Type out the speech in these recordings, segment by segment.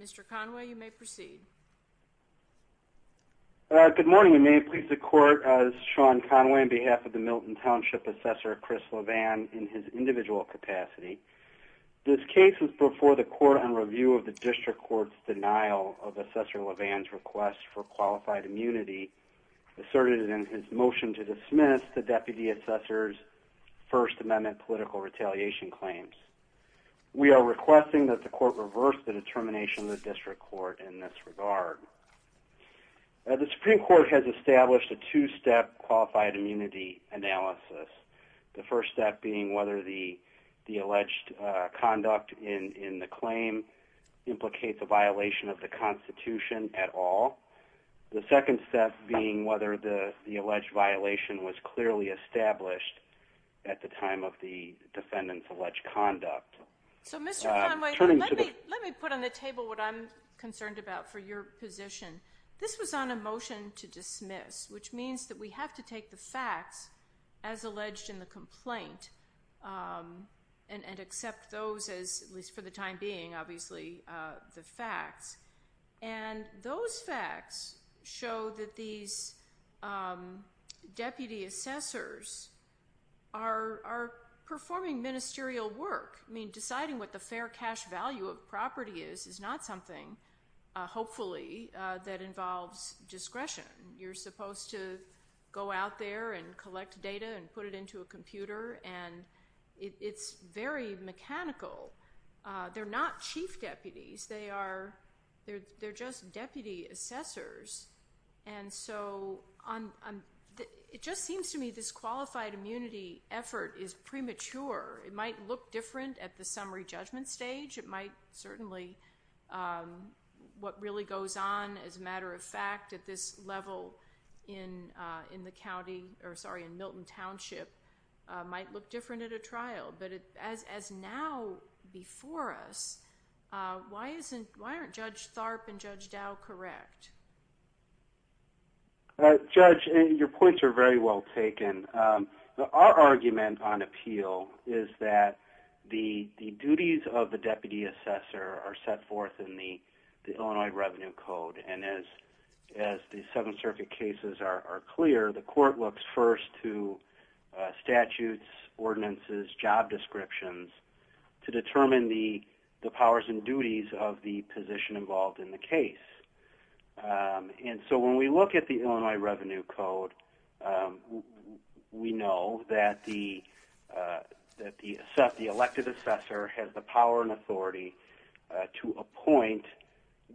Mr. Conway, you may proceed Good morning, you may please record Sean Conway on behalf of the Milton Township Assessor Chris LeVan in his individual capacity. This case was before the court on review of the District Court's denial of Assessor LeVan's request for qualified immunity asserted in his motion to dismiss the Deputy Assessor's First Amendment political retaliation claims. We are requesting that the court reverse the determination of the District Court in this regard. The Supreme Court has established a two-step qualified immunity analysis. The first step being whether the alleged conduct in the claim implicates a violation of the Constitution at all. The second step being whether the alleged violation was clearly established at the time of the defendant's alleged conduct. So Mr. Conway, let me put on the table what I'm concerned about for your position. This was on a motion to dismiss, which means that we have to take the facts as alleged in the complaint and accept those as, at least for the time being, obviously, the facts. And those facts show that these Deputy Assessors are performing ministerial work. I mean, deciding what the fair cash value of property is is not something, hopefully, that involves discretion. You're supposed to go out there and collect data and put it into a computer, and it's very mechanical. They're not chief deputies. They're just Deputy Assessors. And so it just seems to me this qualified immunity effort is premature. It might look different at the summary judgment stage. It might certainly, what really goes on as a matter of fact at this level in the county, or sorry, in Milton Township, might look different at a trial. But as now before us, why aren't Judge Tharp and Judge Dow correct? Judge, your points are very well taken. Our argument on appeal is that the duties of the Deputy Assessor are set forth in the Illinois Revenue Code. And as the Seventh Circuit cases are clear, the court looks first to statutes, ordinances, job descriptions to determine the powers and duties of the position involved in the case. And so when we look at the Illinois Revenue Code, we know that the elected assessor has the power and authority to appoint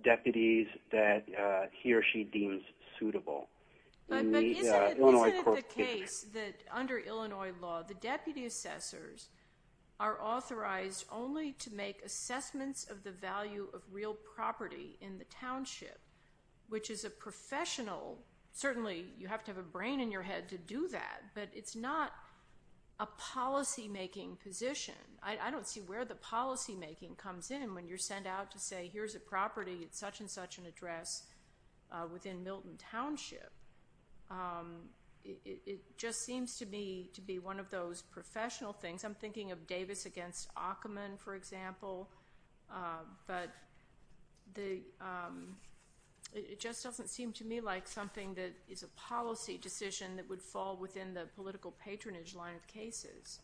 deputies that he or she deems suitable. But isn't it the case that under Illinois law, the Deputy to make assessments of the value of real property in the township, which is a professional, certainly you have to have a brain in your head to do that, but it's not a policymaking position. I don't see where the policymaking comes in when you're sent out to say, here's a property at such and such an address within Milton Township. It just seems to me to be one of those professional things. I'm thinking of Davis against Ackerman, for example. But it just doesn't seem to me like something that is a policy decision that would fall within the political patronage line of cases.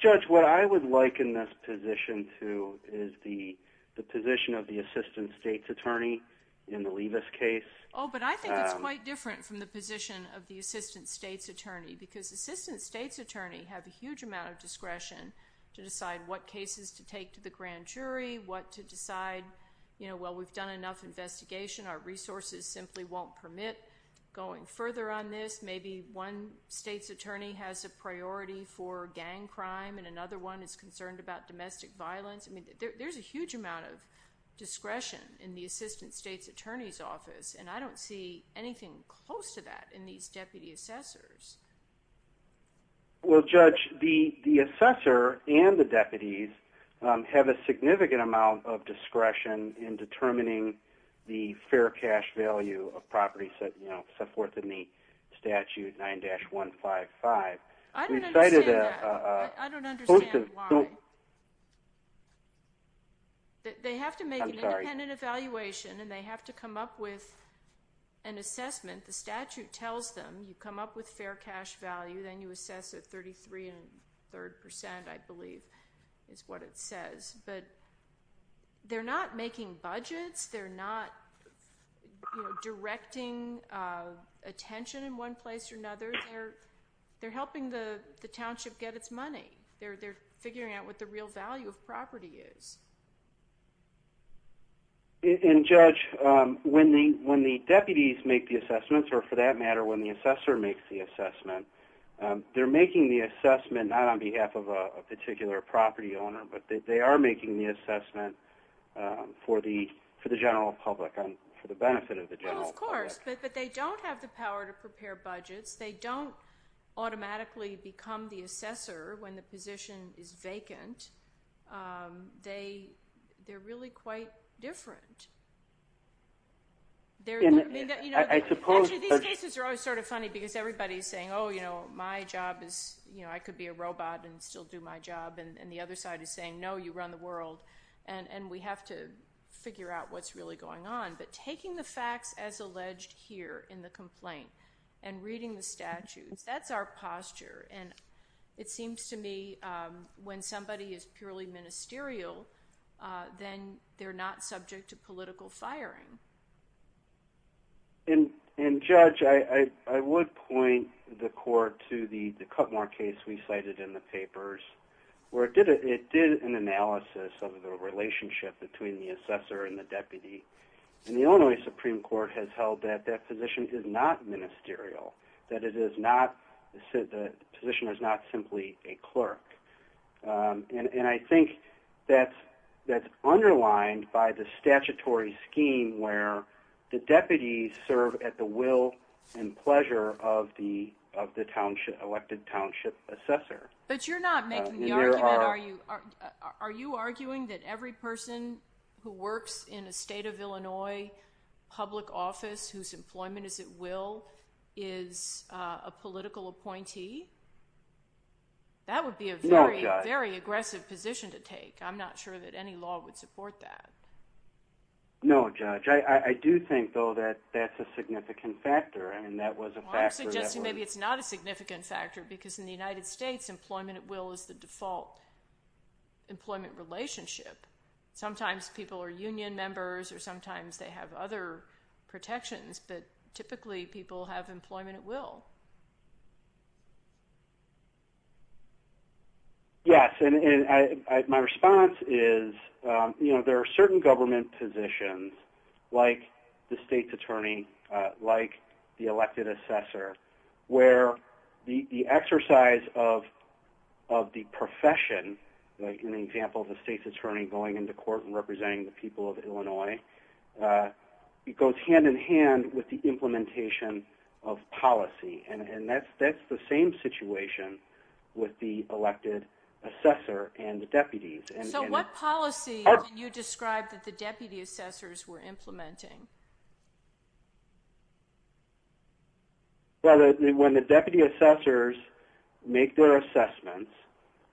Judge, what I would liken this position to is the position of the Assistant State's Attorney in the Levis case. Oh, but I think it's quite different from the position of the Assistant State's Attorney, because Assistant State's Attorney have a huge amount of discretion to decide what cases to take to the grand jury, what to decide. Well, we've done enough investigation. Our resources simply won't permit going further on this. Maybe one State's Attorney has a priority for gang crime and another one is concerned about domestic violence. I mean, there's a huge amount of discretion in the Assistant State's Attorney's office, and I don't see anything close to that in these deputy assessors. Well, Judge, the assessor and the deputies have a significant amount of discretion in determining the fair cash value of properties set forth in the statute 9-155. I don't understand that. I don't understand why. They have to make an independent assessment and an evaluation, and they have to come up with an assessment. The statute tells them you come up with fair cash value, then you assess at 33 and a third percent, I believe is what it says. But they're not making budgets. They're not directing attention in one place or another. They're helping the township get its money. They're figuring out what the real value of property is. And Judge, when the deputies make the assessments, or for that matter when the assessor makes the assessment, they're making the assessment not on behalf of a particular property owner, but they are making the assessment for the general public and for the benefit of the general public. Well, of course, but they don't have the power to prepare budgets. They don't automatically become the assessor when the position is vacant. They're really quite different. Actually, these cases are always sort of funny because everybody's saying, oh, you know, my job is, you know, I could be a robot and still do my job. And the other side is saying, no, you run the world, and we have to figure out what's really going on. But taking the facts as alleged here in the complaint and reading the statutes, that's our posture. And it seems to me when somebody is purely ministerial, then they're not subject to political firing. And Judge, I would point the court to the Cutmore case we cited in the papers, where it did an analysis of the relationship between the assessor and the deputy. And the Illinois Supreme Court has held that that position is not ministerial, that it is not, the position is not simply a clerk. And I think that's underlined by the statutory scheme where the deputies serve at the will and pleasure of the township, elected township assessor. But you're not making the argument, are you arguing that every person who works in a state of Illinois public office whose employment is at will is a political appointee? That would be a very aggressive position to take. I'm not sure that any law would support that. No, Judge. I do think, though, that that's a significant factor. I mean, that was a factor that was... I'm suggesting maybe it's not a significant factor, because in the United States, employment at will is the default employment relationship. Sometimes people are union members, or sometimes they have other protections, but typically people have employment at will. Yes, and my response is, you know, there are certain government positions, like the state's attorney, like the elected assessor, where the exercise of the profession, the profession like in the example of the state's attorney going into court and representing the people of Illinois, it goes hand in hand with the implementation of policy. And that's the same situation with the elected assessor and the deputies. So what policy did you describe that the deputy assessors were implementing? Well, when the deputy assessors make their assessments,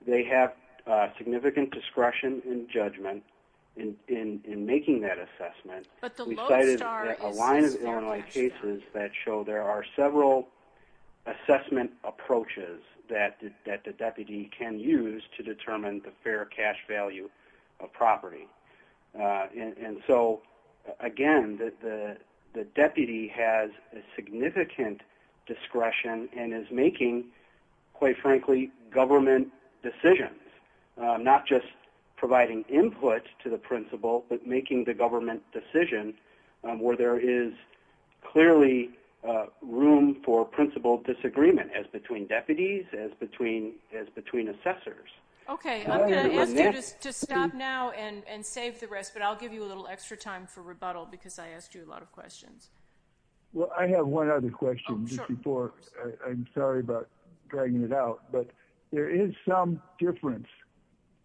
they have significant discretion and judgment in making that assessment. We cited a line of Illinois cases that show there are several assessment approaches that the deputy can use to determine the fair cash value of property. And so, again, the deputy has a significant discretion and is making, quite frankly, government decisions, not just providing input to the principal, but making the government decision where there is clearly room for principal disagreement, as between deputies, as between assessors. Okay. I'm going to ask you to stop now and save the rest, but I'll give you a little extra time for rebuttal because I asked you a lot of questions. Well, I have one other question just before. I'm sorry about dragging it out, but there is some difference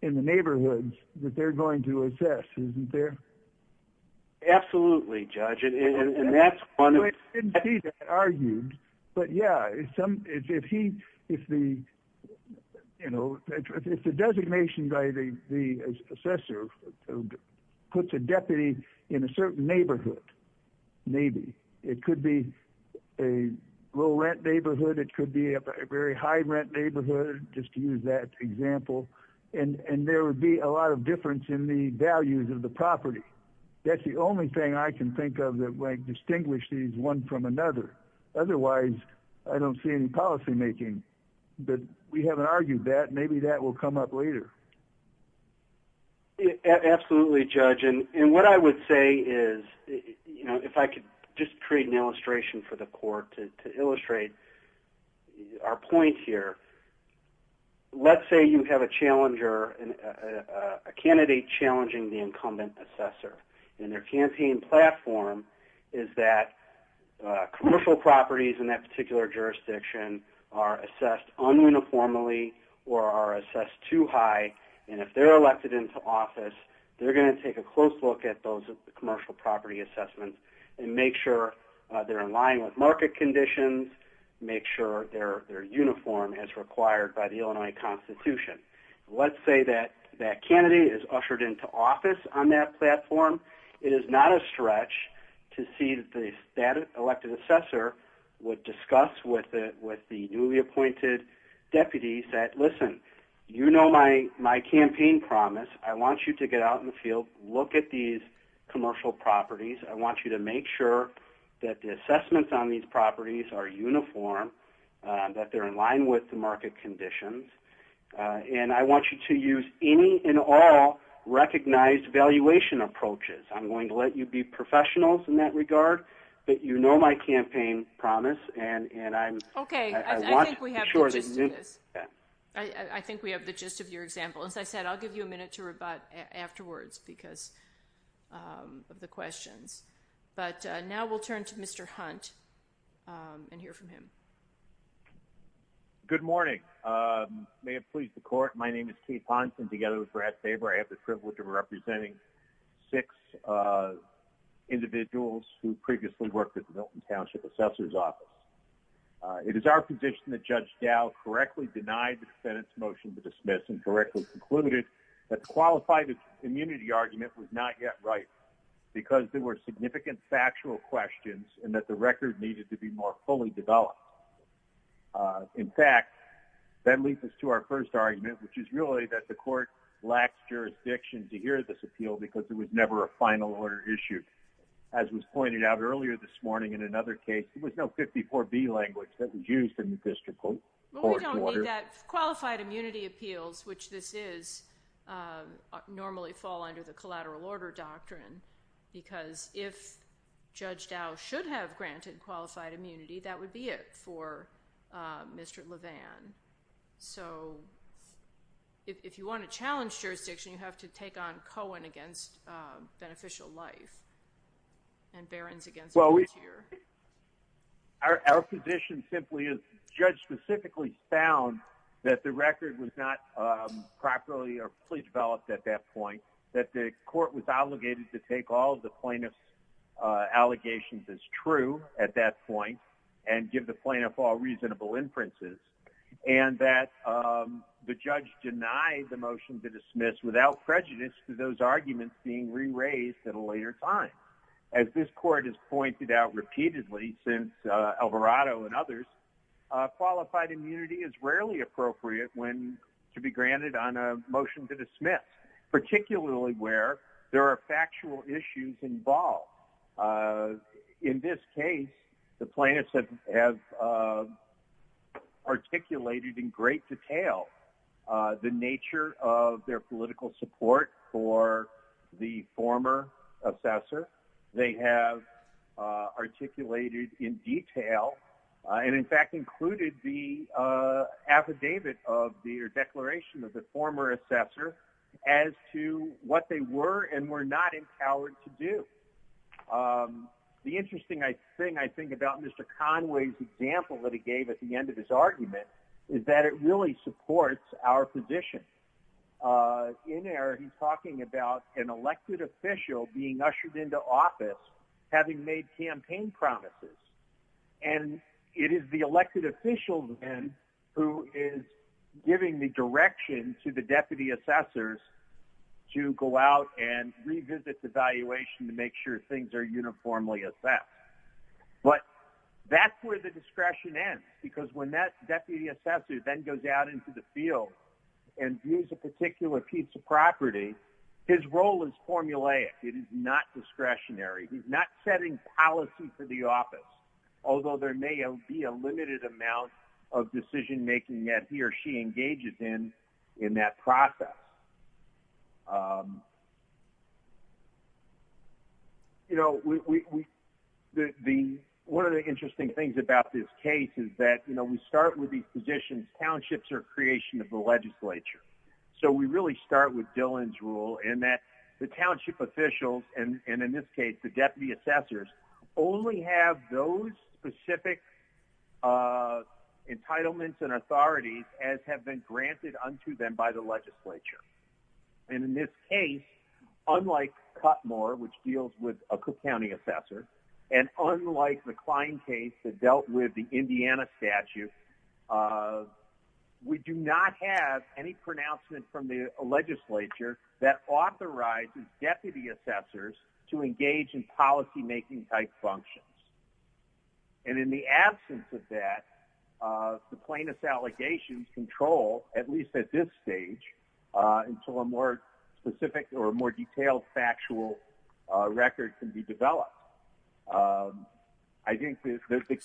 in the neighborhoods that they're going to assess, isn't there? Absolutely, Judge. And that's one of... I didn't see that argued, but yeah, if the designation by the assessor puts a deputy in a certain neighborhood, maybe. It could be a low-rent neighborhood. It could be a very high-rent neighborhood, just to use that example. And there would be a lot of difference in the values of the property. That's the only thing I can think of that might distinguish these one from another. Otherwise, I don't see any policymaking, but we haven't argued that. Maybe that will come up later. Absolutely, Judge. And what I would say is, if I could just create an illustration for the court to illustrate our point here. Let's say you have a challenger, a candidate challenging the incumbent assessor. And their campaign platform is that commercial properties in that particular jurisdiction are assessed un-uniformly or are assessed too high. And if they're elected into office, they're going to take a close look at those commercial property assessments and make sure they're in line with market conditions, make sure they're uniform as required by the Illinois Constitution. Let's say that candidate is ushered into office on that platform. It is not a stretch to see that the elected assessor would discuss with the newly appointed deputies that, listen, you know my campaign promise. I want you to get out in the field, look at these commercial properties. I want you to make sure that the assessments on these properties are uniform, that they're in line with the market conditions. And I want you to use any and all recognized valuation approaches. I'm going to let you be professionals in that regard, but you know my campaign promise. Okay, I think we have the gist of this. I think we have the gist of your example. As I said, I'll give you a minute to rebut afterwards because of the questions. But now we'll turn to and hear from him. Good morning. May it please the court. My name is Keith Hanson together with Brad Faber. I have the privilege of representing six individuals who previously worked at the Milton Township Assessor's Office. It is our position that Judge Dow correctly denied the Senate's motion to dismiss and directly concluded that the qualified immunity argument was not yet right because there were significant factual questions and that the record needed to be more fully developed. In fact, that leads us to our first argument, which is really that the court lacks jurisdiction to hear this appeal because there was never a final order issued. As was pointed out earlier this morning in another case, there was no 54B language that was used in the district court. We don't need that. Qualified immunity appeals, which this is, normally fall under the collateral order doctrine because if Judge Dow should have granted qualified immunity, that would be it for Mr. Levan. So if you want to challenge jurisdiction, you have to take on Cohen against beneficial life and Barron's against volunteer. Our position simply is Judge specifically found that the record was not properly or fully developed at that point, that the court was obligated to take all of the plaintiff's allegations as true at that point and give the plaintiff all reasonable inferences, and that the judge denied the motion to dismiss without prejudice to those arguments being re-raised at a later time. As this court has pointed out repeatedly since Alvarado and others, qualified immunity is rarely appropriate when to be granted on a motion to dismiss, particularly where there are factual issues involved. In this case, the plaintiffs have articulated in great detail the nature of their political support for the former assessor. They have articulated in detail and in fact included the affidavit of the declaration of the former assessor as to what they were and were not empowered to do. The interesting thing I think about Mr. Conway's example that he gave at the end of his argument is that it really supports our position. In there, he's talking about an elected official being ushered into office having made campaign promises, and it is the elected official then who is giving the direction to the deputy assessors to go out and revisit the valuation to make sure things are uniformly assessed. But that's where the discretion ends, because when that deputy assessor then goes out into the field and views a particular piece of property, his role is formulaic. It is not discretionary. He's not setting policy for the office, although there may be a limited amount of decision-making that he or she engages in in that process. One of the interesting things about this case is that we start with these positions, townships are a creation of the legislature. So we really start with Dillon's rule in that the township officials, and in this case the deputy assessors, only have those specific entitlements and authorities as have been granted unto them by the legislature. And in this case, unlike Cutmore, which deals with a Cook County assessor, and unlike the Klein case that dealt with the Indiana statute, we do not have any pronouncement from the legislature that authorizes deputy assessors to engage in policymaking-type functions. And in the absence of that, the plaintiff's allegations control, at least at this stage, until a more specific or a more detailed factual record can be developed. I think that the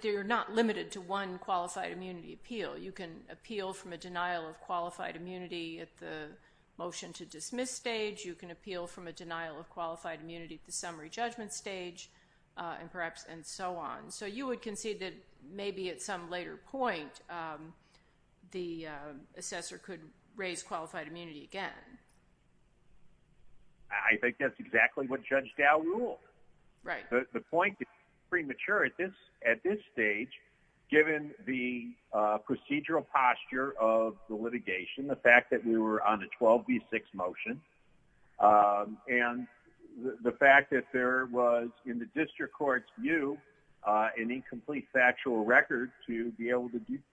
you're not limited to one qualified immunity appeal. You can appeal from a denial of qualified immunity at the motion-to-dismiss stage, you can appeal from a denial of qualified immunity at the summary judgment stage, and so on. So you would concede that maybe at some later point the assessor could raise qualified immunity again. I think that's exactly what Judge Dow ruled. The point is premature at this stage, given the procedural posture of the litigation, the fact that we were on a 12B6 motion, and the fact that there was, in the district court's view, an incomplete factual record to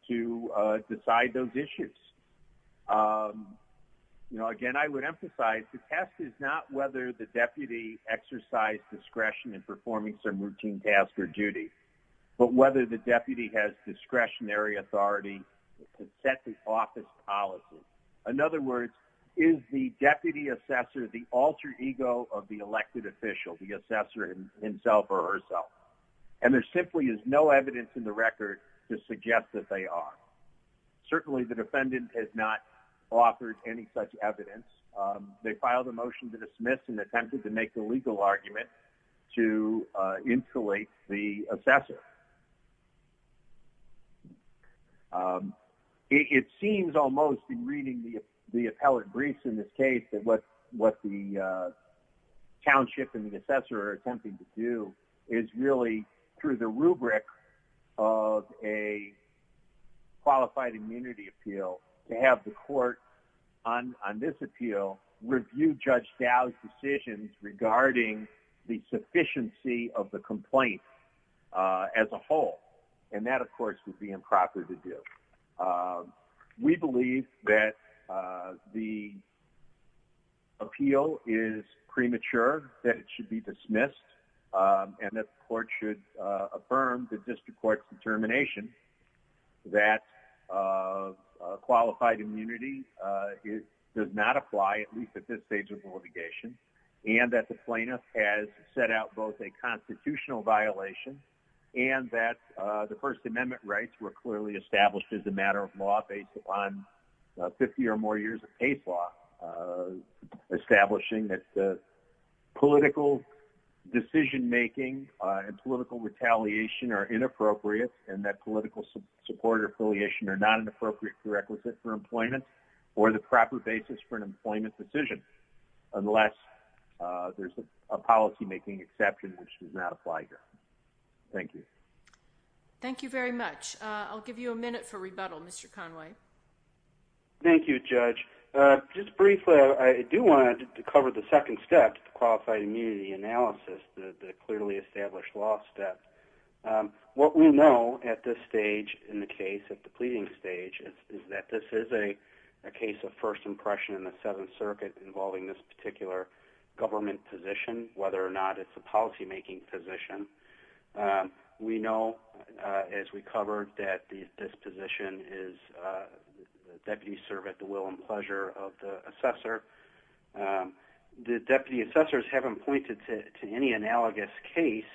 decide those issues. Again, I would emphasize the test is not whether the deputy exercised discretion in performing some routine task or duty, but whether the deputy has discretionary authority to set the office policy. In other words, is the deputy assessor the alter ego of the elected official, the assessor himself or herself? And there simply is no evidence in the record to suggest that they are. Certainly the defendant has not offered any such evidence. They filed a motion to dismiss and attempted to make a legal argument to insulate the assessor. It seems almost in reading the appellate briefs in this case that what the township and the assessor are attempting to do is really through the rubric of a qualified immunity appeal to have the court on this appeal review Judge Dow's decisions regarding the sufficiency of the complaint as a whole. And that, of course, would be improper to do. We believe that the appeal is premature, that it should be dismissed, and that the court should affirm the district court's determination that qualified immunity does not apply, at least at this stage of litigation, and that the plaintiff has set out both a constitutional violation and that the First Amendment rights were clearly established as a matter of law based upon 50 or more years of case law, establishing that the political decision making and political retaliation are inappropriate and that political support or affiliation are not an appropriate prerequisite for employment or the proper basis for an employment decision, unless there's a policymaking exception which does not apply here. Thank you. Thank you very much. I'll give you a minute for rebuttal, Mr. Conway. Thank you, Judge. Just briefly, I do want to cover the second step, the qualified immunity analysis, the clearly established law step. What we know at this stage in the case, at the pleading stage, is that this is a case of first impression in the Seventh Circuit involving this particular government position, whether or not it's a policymaking position. We know, as we covered, that this position is that you serve at the will and pleasure of the assessor. The deputy assessors haven't pointed to any analogous case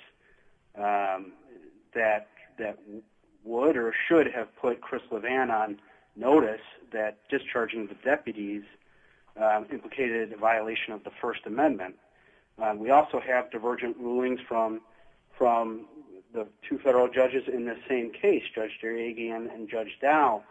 that would or should have put Chris LeVan on notice that discharging the deputies implicated a violation of the First Amendment. We also have divergent rulings from the two federal judges in the same case, Judge Dariaghi and Judge Dow,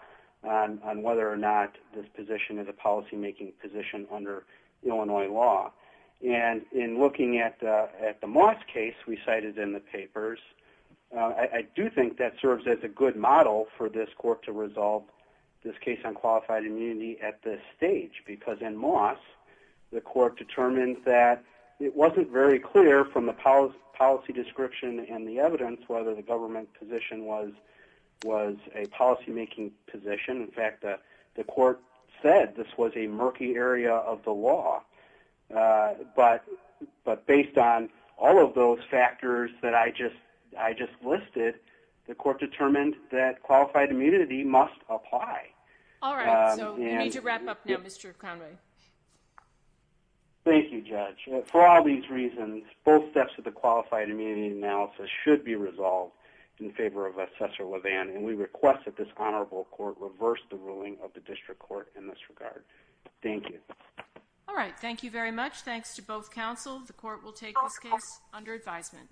on whether or not this position is a policymaking position under Illinois law. In looking at the Moss case we cited in the papers, I do think that serves as a good model for this court to resolve this case on qualified immunity at this stage, because in Moss, the court determined that it wasn't very clear from the policy description and the evidence whether the government position was a policymaking position. In fact, the court said this was a murky area of the law. But based on all of those factors that I just listed, the court determined that qualified immunity must apply. All right, so we need to wrap up now, Mr. Conway. Thank you, Judge. For all these reasons, both steps of the qualified immunity analysis should be resolved in favor of Assessor LeVan, and we request that this honorable court reverse the ruling of the district court in this regard. Thank you. All right, thank you very much. Thanks to both counsel. The court will take this case under advisement.